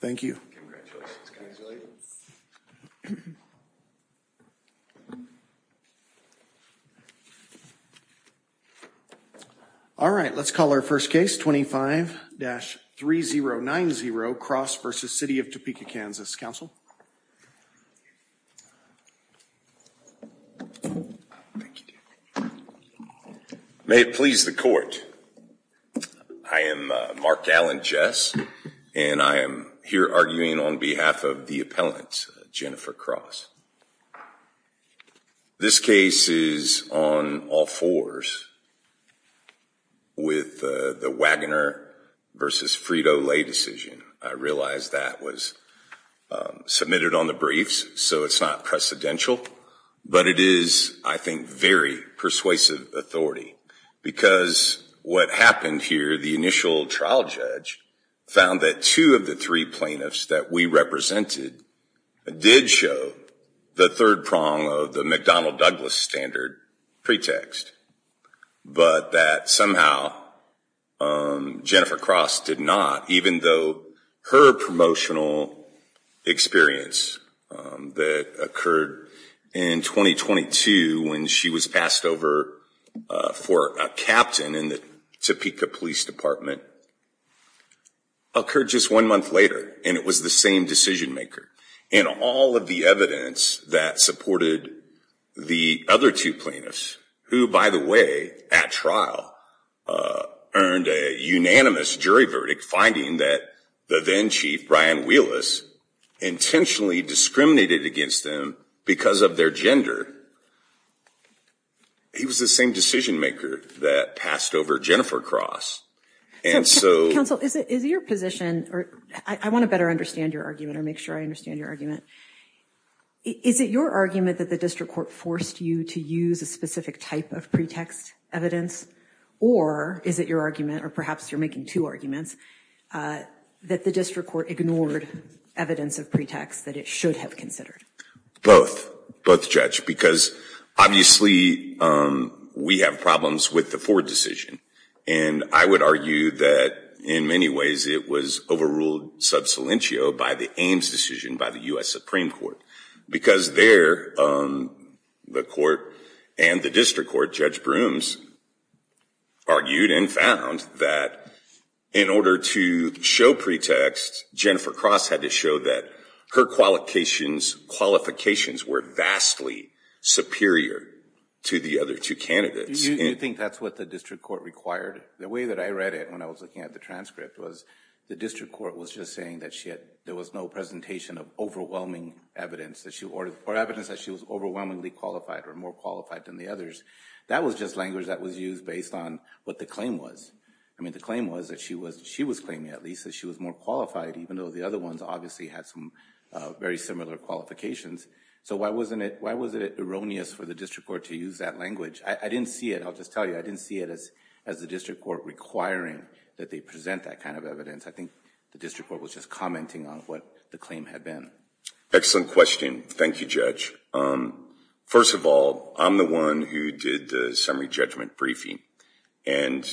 thank you all right let's call our first case 25-3090 cross versus City of Topeka, Kansas counsel. May it please the court I am Mark Allen Jess and I am here arguing on behalf of the appellant Jennifer Cross. This case is on all fours with the Wagoner versus Frito-Lay decision. I realize that was submitted on the briefs so it's not precedential but it is I think very persuasive authority because what happened here the initial trial judge found that two of the three plaintiffs that we represented did show the third prong of the McDonnell Douglas standard pretext but that somehow Jennifer Cross did not even though her promotional experience that occurred in 2022 when she was passed over for a captain in the Topeka Police Department occurred just one month later and it was the same plaintiffs who by the way at trial earned a unanimous jury verdict finding that the then chief Brian Wheelis intentionally discriminated against them because of their gender. He was the same decision maker that passed over Jennifer Cross and so counsel is it is your position or I want to better understand your argument or make sure I understand your argument is it your argument that the district court forced you to use a specific type of pretext evidence or is it your argument or perhaps you're making two arguments that the district court ignored evidence of pretext that it should have considered? Both both judge because obviously we have problems with the Ford decision and I would argue that in many ways it was overruled sub silentio by the Ames decision by the US Supreme Court because there the court and the district court judge brooms argued and found that in order to show pretext Jennifer Cross had to show that her qualifications qualifications were vastly superior to the other two candidates. You think that's what the district court required the way that I read it when I was looking at the transcript was the district court was just saying that shit there was no presentation of overwhelming evidence that she ordered for evidence that she was overwhelmingly qualified or more qualified than the others that was just language that was used based on what the claim was I mean the claim was that she was she was claiming at least that she was more qualified even though the other ones obviously had some very similar qualifications so why wasn't it why was it erroneous for the district court to use that language I didn't see it I'll just tell you I didn't see it as as the district court requiring that they present that kind of evidence I think the district court was just commenting on what the claim had been excellent question thank you judge first of all I'm the one who did the summary judgment briefing and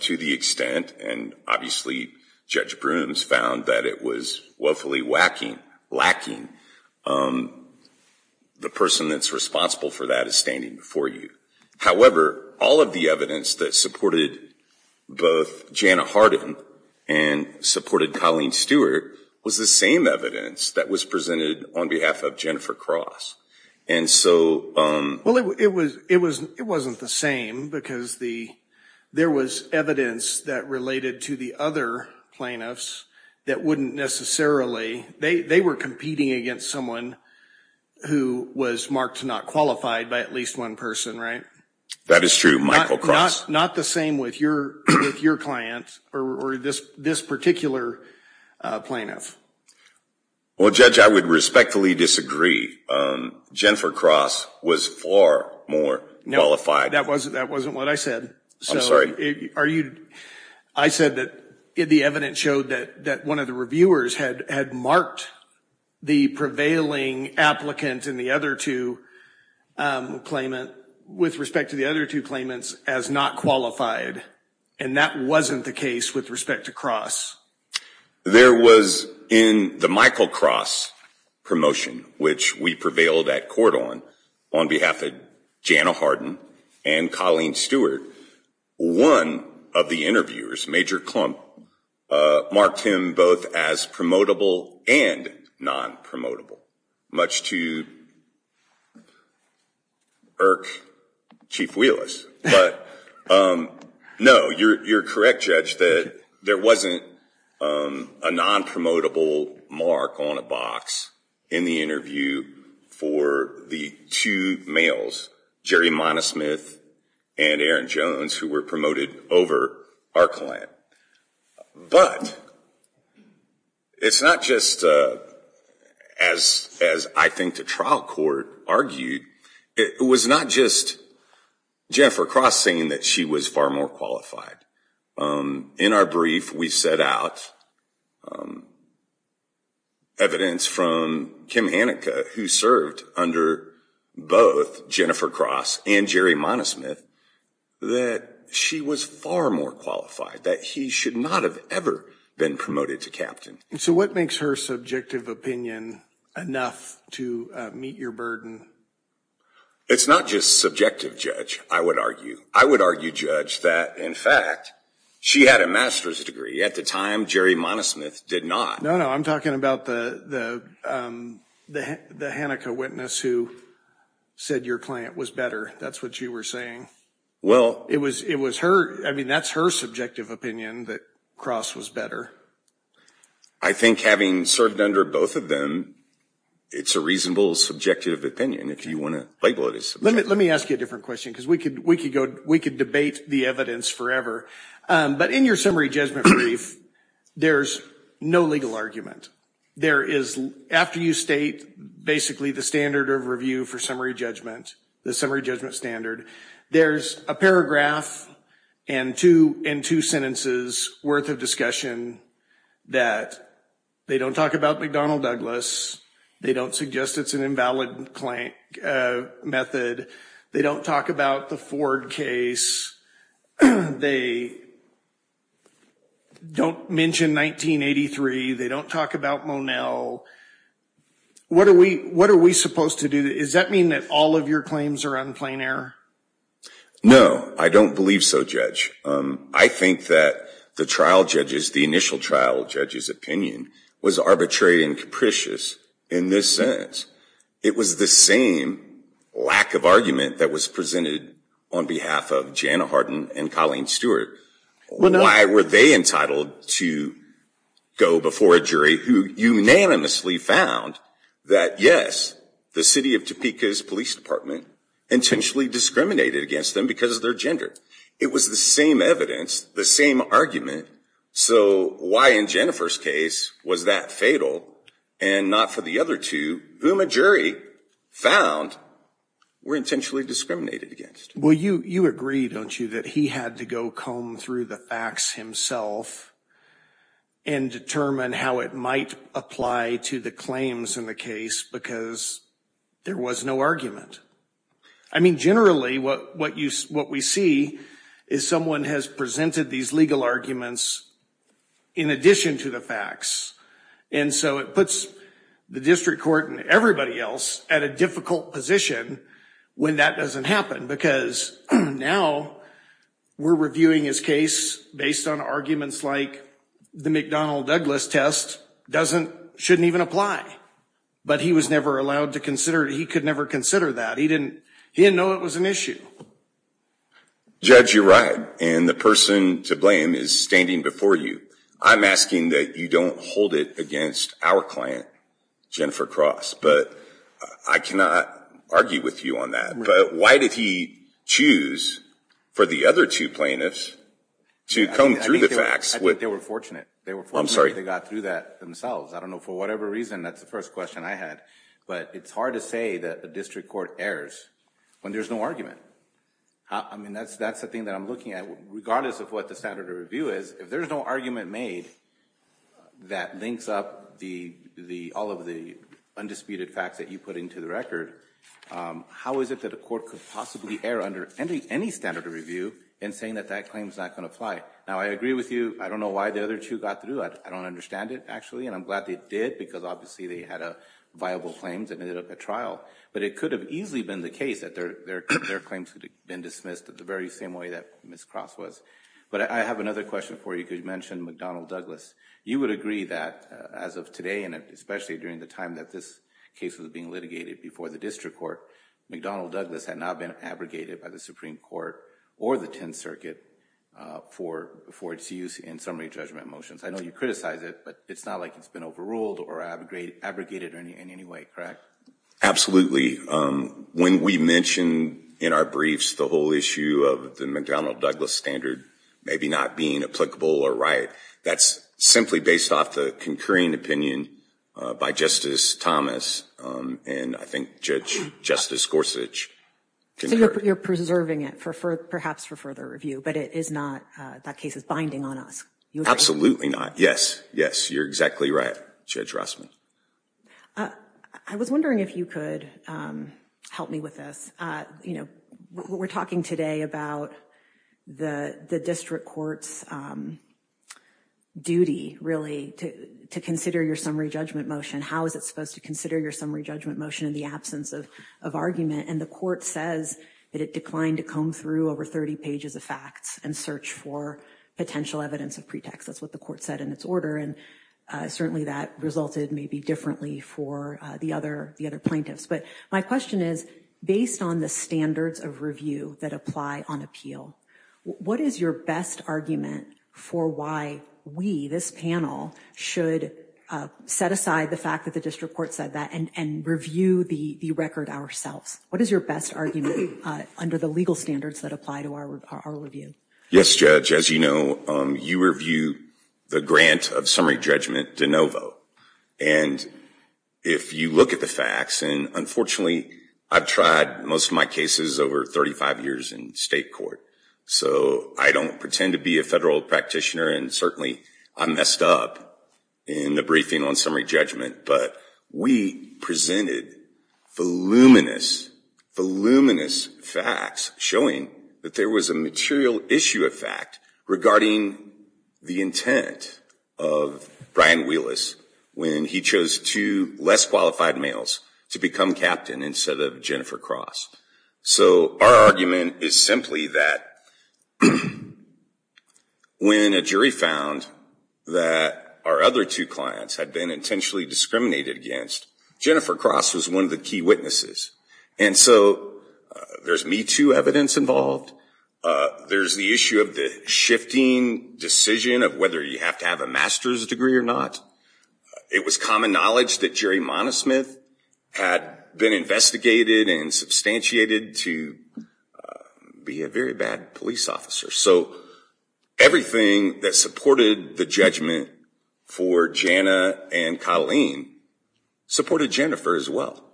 to the extent and obviously judge brooms found that it was woefully whacking lacking the person that's responsible for that is standing before you however all of the evidence that supported both Jana Harden and supported Colleen Stewart was the same evidence that was presented on behalf of Jennifer cross and so um well it was it was it wasn't the same because the there was evidence that related to the other plaintiffs that wouldn't necessarily they they were competing against someone who was marked not qualified by at least one person right that is true Michael cross not the same with your with your client or this this particular plaintiff well judge I would respectfully disagree Jennifer cross was far more know if I that wasn't that wasn't what I said sorry are you I said that if the evidence showed that that one of the reviewers had had marked the prevailing applicant in the other two claimant with respect to the other two claimants as not qualified and that wasn't the case with respect to cross there was in the Michael cross promotion which we prevailed at court on on behalf of Jana Harden and Colleen Stewart one of the interviewers major clump marked him both as promotable and non-promotable much to Burke chief wheelers but no you're correct judge that there wasn't a non-promotable mark on a box in the interview for the two males Jerry Montesmith and Aaron Jones who were promoted over our client but it's not just as as I think the trial court argued it was not just Jennifer crossing that she was far more qualified in our brief we set out evidence from Kim Hanukkah who served under both Jennifer cross and Jerry Montesmith that she was far more qualified that he should not have ever been promoted to captain so what makes her subjective opinion enough to meet your burden it's not just subjective judge I would argue I would argue judge that in fact she had a master's degree at the time Jerry Montesmith did not know I'm talking about the the Hanukkah witness who said your client was better that's what you were saying well it was it was her I mean that's her subjective opinion that was better I think having served under both of them it's a reasonable subjective opinion if you want to let me ask you a different question because we could we could go we could debate the evidence forever but in your summary judgment brief there's no legal argument there is after you state basically the standard of review for summary judgment the summary judgment standard there's a discussion that they don't talk about McDonnell Douglas they don't suggest it's an invalid client method they don't talk about the Ford case they don't mention 1983 they don't talk about Monel what are we what are we supposed to do is that mean that all of your claims are on plane air no I don't believe so judge I think that the trial judges the initial trial judges opinion was arbitrary and capricious in this sense it was the same lack of argument that was presented on behalf of Jana Hardin and Colleen Stewart why were they entitled to go before a jury who unanimously found that yes the city of Topeka's Police Department intentionally discriminated against them because of their gender it was the same evidence the same argument so why in Jennifer's case was that fatal and not for the other two whom a jury found were intentionally discriminated against well you you agree don't you that he had to go comb through the facts himself and determine how it might apply to the claims in the case because there was no argument I mean generally what what you what we see is someone has presented these legal arguments in addition to the facts and so it puts the district court and everybody else at a difficult position when that doesn't happen because now we're reviewing his case based on arguments like the McDonnell Douglas test doesn't shouldn't even apply but he was never allowed to consider he could never consider that he didn't know it was an issue judge you're right and the person to blame is standing before you I'm asking that you don't hold it against our client Jennifer Cross but I cannot argue with you on that but why did he choose for the other two plaintiffs to come through the facts what they were fortunate they were I'm sorry they got through that themselves I don't know for whatever reason that's the first question I had but it's hard to say that the district court errors when there's no argument I mean that's that's the thing that I'm looking at regardless of what the standard of review is if there's no argument made that links up the the all of the undisputed facts that you put into the record how is it that a court could possibly err under any any standard of review and saying that that claims not going to fly now I agree with you I don't know why the other two got through it I don't understand it actually and I'm glad they did because obviously they had a viable claims and a trial but it could have easily been the case that their their claims would have been dismissed at the very same way that Miss Cross was but I have another question for you could mention McDonnell Douglas you would agree that as of today and especially during the time that this case was being litigated before the district court McDonnell Douglas had not been abrogated by the Supreme Court or the Tenth Circuit for before its use in summary judgment motions I know you criticize it but it's not like it's been overruled or abrogated abrogated in any way correct absolutely when we mentioned in our briefs the whole issue of the McDonnell Douglas standard maybe not being applicable or right that's simply based off the concurring opinion by Justice Thomas and I think Judge Justice Gorsuch you're preserving it for for perhaps for further review but it is not that case is binding on us you absolutely not yes yes you're exactly right Judge Rossman I was wondering if you could help me with this you know what we're talking today about the the district courts duty really to to consider your summary judgment motion how is it supposed to consider your summary judgment motion in the absence of of argument and the court says that it declined to comb through over 30 pages of facts and search for potential evidence of pretext that's what the court said in its order and certainly that resulted maybe differently for the other the other plaintiffs but my question is based on the standards of review that apply on appeal what is your best argument for why we this panel should set aside the fact that the district court said that and and review the record ourselves what is your best argument under the legal standards that apply to our review yes Judge as you know you review the grant of summary judgment de novo and if you look at the facts and unfortunately I've tried most of my cases over 35 years in state court so I don't pretend to be a federal practitioner and certainly I messed up in the briefing on summary judgment but we presented voluminous facts showing that there was a material issue of fact regarding the intent of Brian wheelers when he chose two less qualified males to become captain instead of Jennifer Cross so our argument is simply that when a jury found that our other two clients had been intentionally discriminated against Jennifer Cross was one of the key witnesses and so there's me to evidence involved there's the issue of the shifting decision of whether you have to have a master's degree or not it was common knowledge that Jerry Monismith had been investigated and substantiated to be a very bad police officer so everything that supported the judgment for Jana and Colleen supported Jennifer as well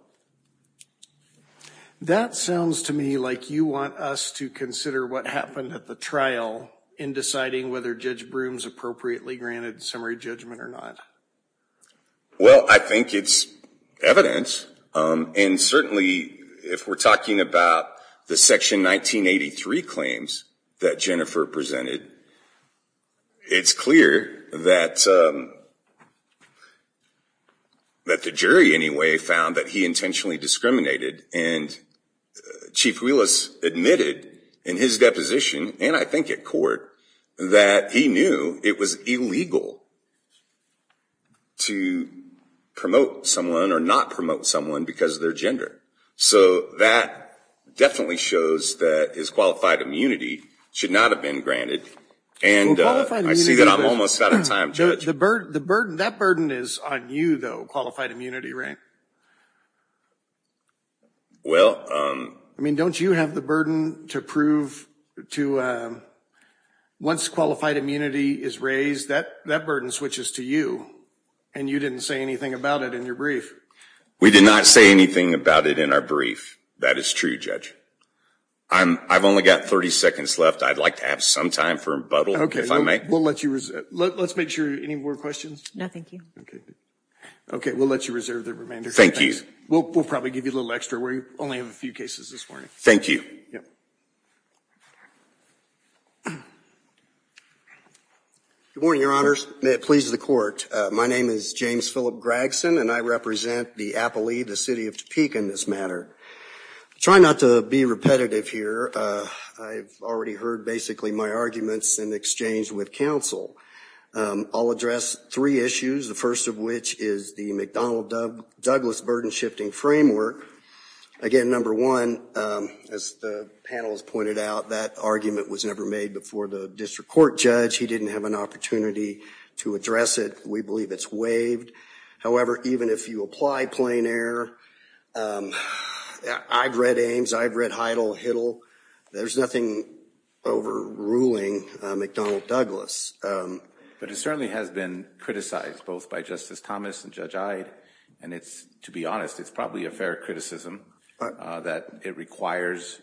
that sounds to me like you want us to consider what happened at the trial in deciding whether Judge Broome's appropriately granted summary judgment or not well I think it's evidence and certainly if we're talking about the section 1983 claims that Jennifer presented it's clear that that the jury anyway found that he intentionally discriminated and chief wheelers admitted in his deposition and I think it court that he knew it was illegal to promote someone or not promote someone because their gender so that definitely shows that is qualified immunity should not have been granted and I see that I'm almost out of time judge the bird the burden that burden is on you though qualified immunity rank well I mean don't you have the burden to prove to once qualified immunity is raised that that burden switches to you and you didn't say anything about it in your brief we did not say anything about it in our brief that is true judge I'm I've only got 30 seconds left I'd like to have some time for a bottle okay if I may we'll let you let's make sure any more questions no thank you okay okay we'll let you reserve the remainder thank you we'll probably give you a little extra where you only have a few cases this morning thank you good morning your honors may it please the court my name is James Phillip Gregson and I represent the Apple II the city of Topeka in this matter try not to be repetitive here I've already heard basically my arguments in exchange with counsel I'll address three issues the first of which is the McDonnell Doug Douglas burden shifting framework again number one as the panels pointed out that argument was never made before the district court judge he didn't have an opportunity to address it we believe it's waived however even if you apply plein air I've read Ames I've read heidel-hittel there's nothing over ruling McDonnell Douglas but it certainly has been criticized both by justice Thomas and judge I'd and it's to be honest it's probably a fair criticism but that it requires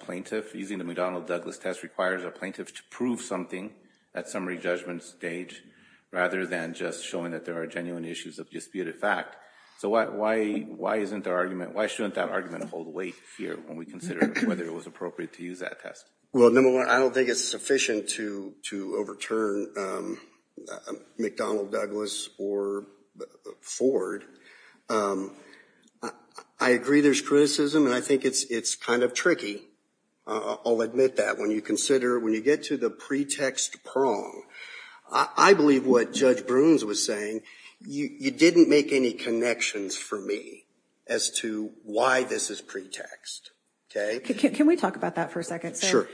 plaintiff using the McDonnell Douglas test requires a plaintiff to prove something at summary judgment stage rather than just showing that there are genuine issues of disputed fact so what why why isn't our argument why shouldn't that argument hold weight here when we consider whether it was appropriate to use that test well number one I don't think it's sufficient to to overturn McDonnell Douglas or Ford I agree there's criticism and I think it's it's kind of tricky I'll admit that when you consider when you get to the pretext prong I believe what judge Brooms was saying you you didn't make any connections for me as to why this is pretext okay can we talk about that for a second sure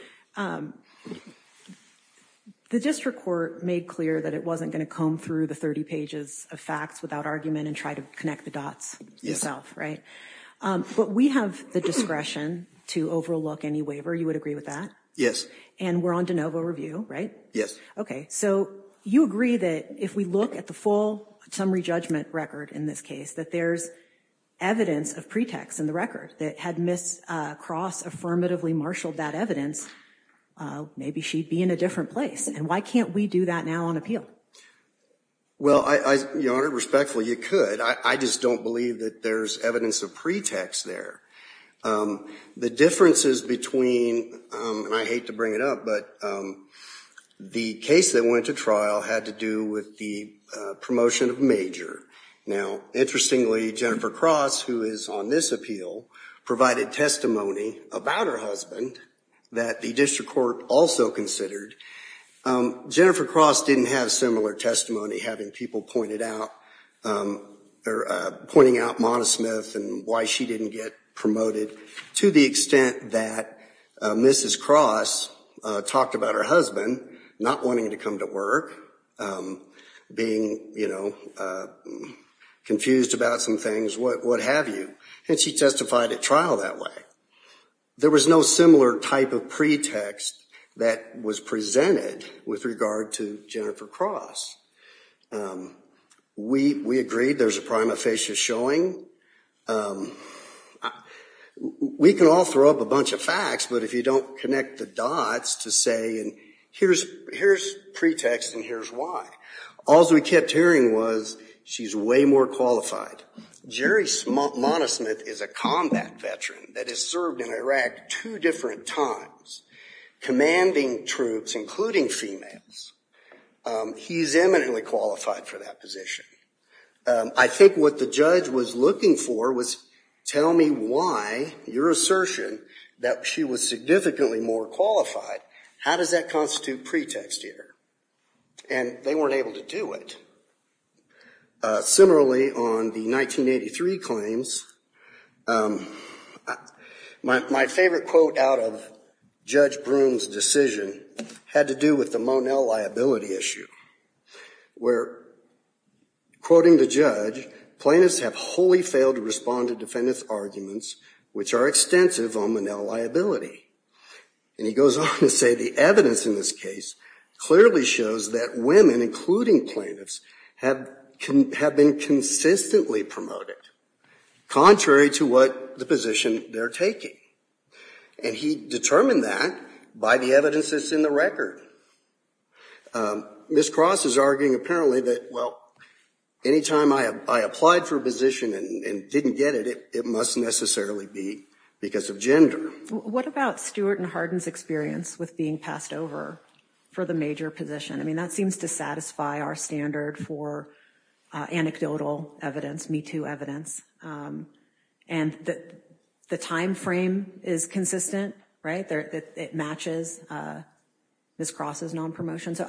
the district court made clear that it wasn't going to comb through the 30 pages of facts without argument and try to connect the dots yourself right but we have the discretion to overlook any waiver you would agree with that yes and we're on de novo review right yes okay so you agree that if we look at the full summary judgment record in this case that there's evidence of pretext in the record that had miss cross affirmatively marshaled that evidence maybe she'd be in a different place and why can't we do that now on appeal well I honor respectfully you could I just don't that there's evidence of pretext there the differences between and I hate to bring it up but the case that went to trial had to do with the promotion of major now interestingly Jennifer Cross who is on this appeal provided testimony about her husband that the district court also considered Jennifer Cross didn't have similar testimony having people pointed out or pointing out Mona Smith and why she didn't get promoted to the extent that mrs. cross talked about her husband not wanting to come to work being you know confused about some things what what have you and she testified at trial that way there was no similar type of pretext that was presented with regard to Jennifer Cross we we agreed there's a prima facie showing we can all throw up a bunch of facts but if you don't connect the dots to say and here's here's pretext and here's why all's we kept hearing was she's way more qualified Jerry small is a combat veteran that is served in Iraq two different times commanding troops including females he's eminently qualified for that position I think what the judge was looking for was tell me why your assertion that she was significantly more qualified how does that constitute pretext here and they able to do it similarly on the 1983 claims my favorite quote out of judge Broome's decision had to do with the Monell liability issue where quoting the judge plaintiffs have wholly failed to respond to defendants arguments which are extensive on the now liability and he goes on to say the evidence in this case clearly shows that women including plaintiffs have been consistently promoted contrary to what the position they're taking and he determined that by the evidence that's in the record this cross is arguing apparently that well anytime I have I applied for a position and didn't get it it must necessarily be because of gender what about Stuart and Hardin's experience with being passed over for the major position I mean that seems to satisfy our standard for anecdotal evidence me to evidence and that the time frame is consistent right there it matches this crosses non-promotion so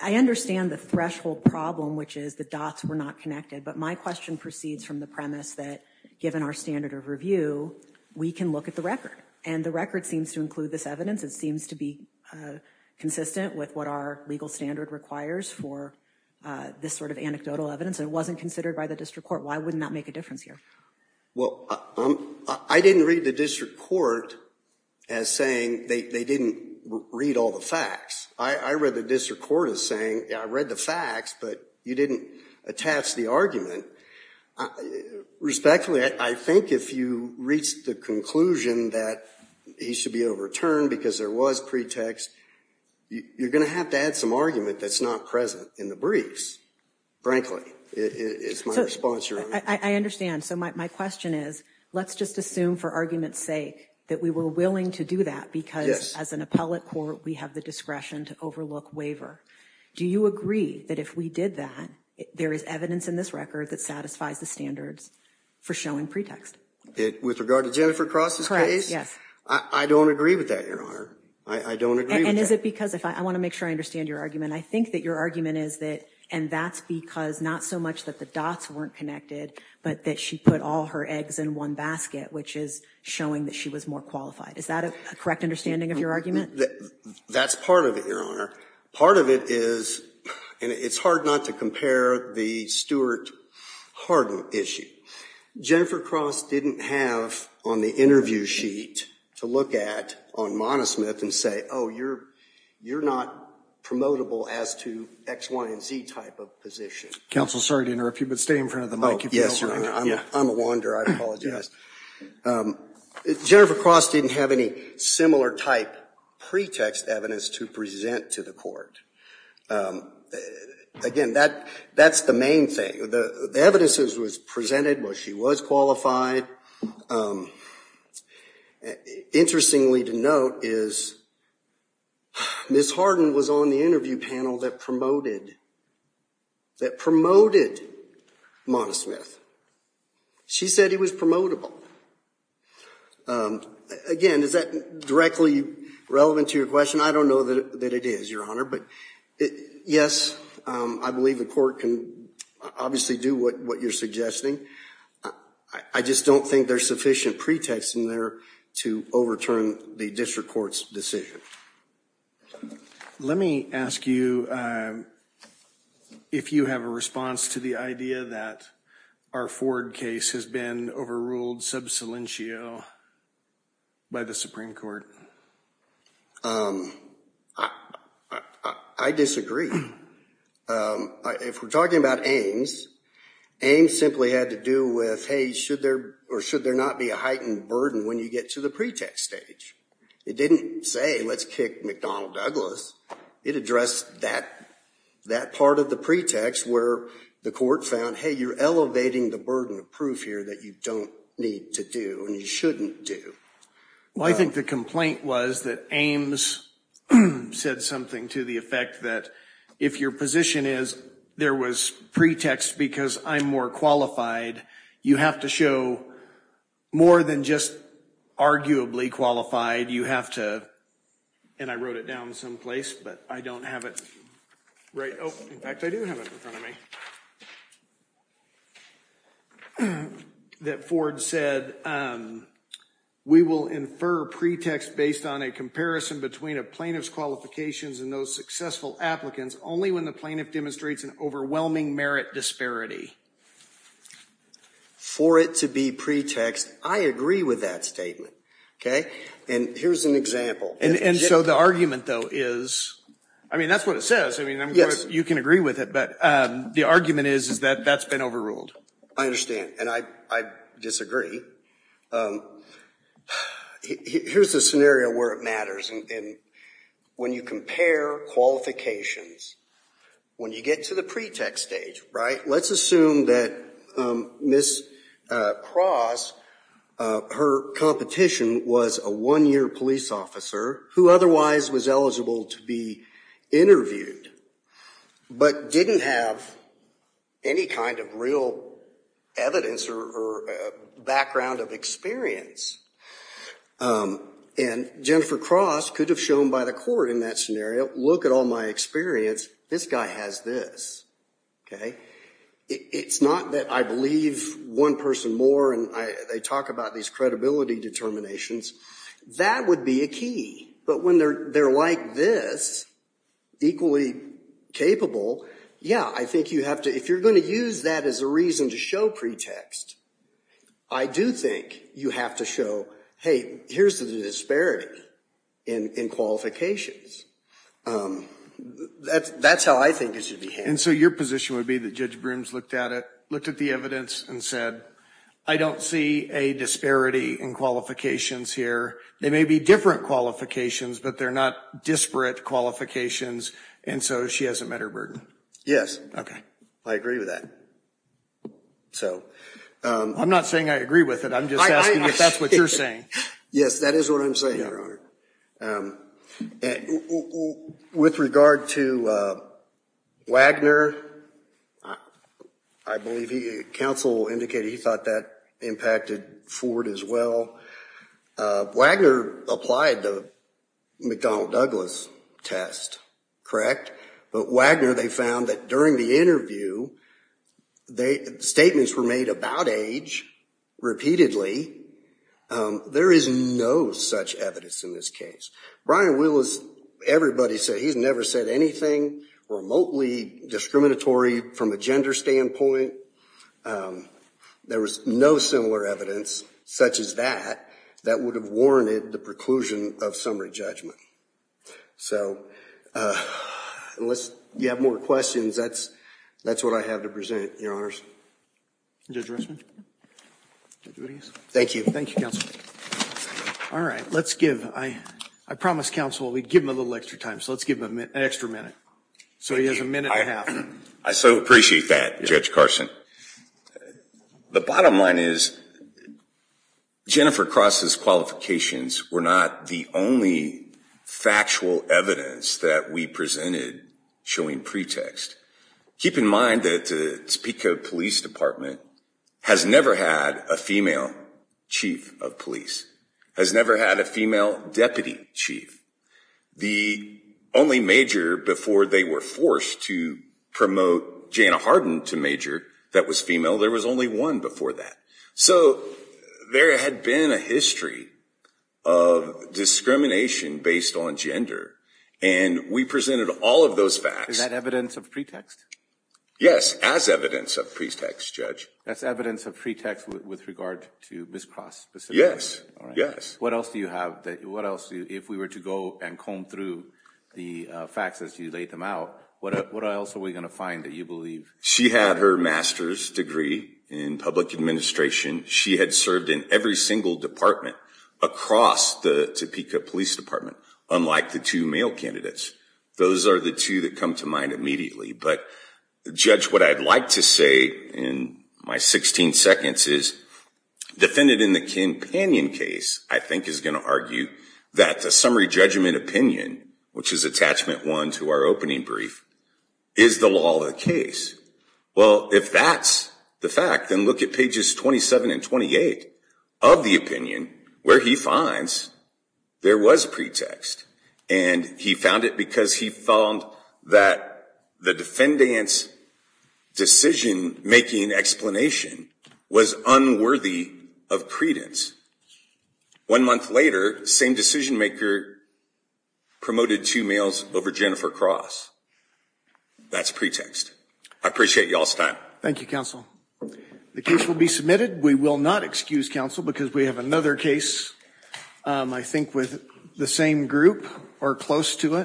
I understand the threshold problem which is the dots were not connected but my question proceeds from the premise that given our standard of review we can look at the record and the record seems to include this evidence it seems to be consistent with what our legal standard requires for this sort of anecdotal evidence it wasn't considered by the district court why wouldn't that make a difference here well I didn't read the district court as saying they didn't read all the facts I read the district court is saying I read the facts but you didn't attach the argument respectfully I think if you reach the conclusion that he should be overturned because there was pretext you're gonna have to add some argument that's not present in the briefs frankly it's my sponsor I understand so my question is let's just assume for argument's sake that we were willing to do that because as an appellate court we have the discretion to overlook waiver do you agree that if we did that there is evidence in this record that satisfies the standards for showing pretext it with regard to Jennifer crosses yes I don't agree with that your honor I don't agree and is it because if I want to make sure I understand your argument I think that your argument is that and that's because not so much that the dots weren't connected but that she put all her eggs in one basket which is showing that she was more qualified is that a correct understanding of your argument that's part of it your honor part of it is and it's hard not to compare the Stuart Hardin issue Jennifer cross didn't have on the interview sheet to look at on monosmith and say oh you're you're not promotable as to X Y & Z type of position counsel sorry to interrupt you but stay in front of the mic yes I'm a wander I apologize Jennifer cross didn't have any similar type pretext evidence to present to the court again that that's the main thing the evidences was presented well she was qualified interestingly to note is miss Hardin was on the interview panel that promoted that promoted monosmith she said he was promotable again is that directly relevant to your question I don't know that it is your honor but it yes I believe the court can obviously do what what you're suggesting I just don't think there's sufficient pretext in there to overturn the district courts decision let me ask you if you have a response to the idea that our Ford case has been overruled substantial by the Supreme Court I disagree if we're talking about Ames Ames simply had to do with hey should there or should there not be a heightened burden when you get to the pretext stage it didn't say let's kick McDonnell Douglas it addressed that that part of the pretext where the court found hey you're elevating the burden of proof here that you don't need to do and you shouldn't do well I think the complaint was that Ames said something to the effect that if your position is there was pretext because I'm more qualified you have to show more than just arguably qualified you have to and I wrote it down someplace but I don't have it right oh in fact I do have it in front of me that Ford said we will infer pretext based on a comparison between a plaintiff's qualifications and those successful applicants only when the demonstrates an overwhelming merit disparity for it to be pretext I agree with that statement okay and here's an example and and so the argument though is I mean that's what it says I mean yes you can agree with it but the argument is is that that's been overruled I understand and I disagree here's the where it matters and when you compare qualifications when you get to the pretext stage right let's assume that miss cross her competition was a one year police officer who otherwise was eligible to be interviewed but didn't have any kind of real evidence or background of experience and Jennifer cross could have shown by the court in that scenario look at all my experience this guy has this okay it's not that I believe one person more and I they talk about these credibility determinations that would be a key but when they're they're like this equally capable yeah I think you have to if you're going to use that as a reason to show pretext I do think you have to show hey here's the disparity in qualifications that's that's how I think it should be and so your position would be the judge brooms looked at it looked at the evidence and said I don't see a disparity in qualifications here they may be different qualifications but they're not disparate qualifications and so she hasn't met her burden yes okay I agree with that so I'm not saying I agree with it I'm just asking if that's what you're saying yes that is what I'm saying with regard to Wagner I believe he counsel indicated he thought that impacted Ford as well Wagner applied the McDonnell Douglas test correct but Wagner they found that during the interview they statements were made about age repeatedly there is no such evidence in this case Brian Willis everybody said he's never said anything remotely discriminatory from a gender standpoint there was no similar evidence such as that that would have warranted the preclusion of summary judgment so unless you have more questions that's that's what I have to present your honors thank you thank you all right let's give I I promised counsel we'd give him a little extra time so let's give him an extra minute so he has a minute I so appreciate that judge Carson the bottom line is Jennifer Cross's qualifications were not the only factual evidence that we presented showing pretext keep in mind that speak of Police Department has never had a female chief of police has never had a female deputy chief the only major before they were forced to promote Janna Harden to major that was female there was only one before that so there had been a history of discrimination based on gender and we presented all of those facts that evidence of pretext yes as evidence of pretext judge that's evidence of pretext with regard to this process yes yes what else do you have that what else do if we were to go and comb through the facts as you laid them what else are we going to find that you believe she had her master's degree in public administration she had served in every single department across the Topeka Police Department unlike the two male candidates those are the two that come to mind immediately but judge what I'd like to say in my 16 seconds is defended in the companion case I think is going to argue that the summary judgment opinion which is attachment one to our opening brief is the law the case well if that's the fact then look at pages 27 and 28 of the opinion where he finds there was pretext and he found it because he found that the defendants decision-making explanation was unworthy of credence one month later same decision-maker promoted two males over Jennifer Cross that's pretext I appreciate y'all's time thank you counsel the case will be submitted we will not excuse counsel because we have another case I think with the same group or close to it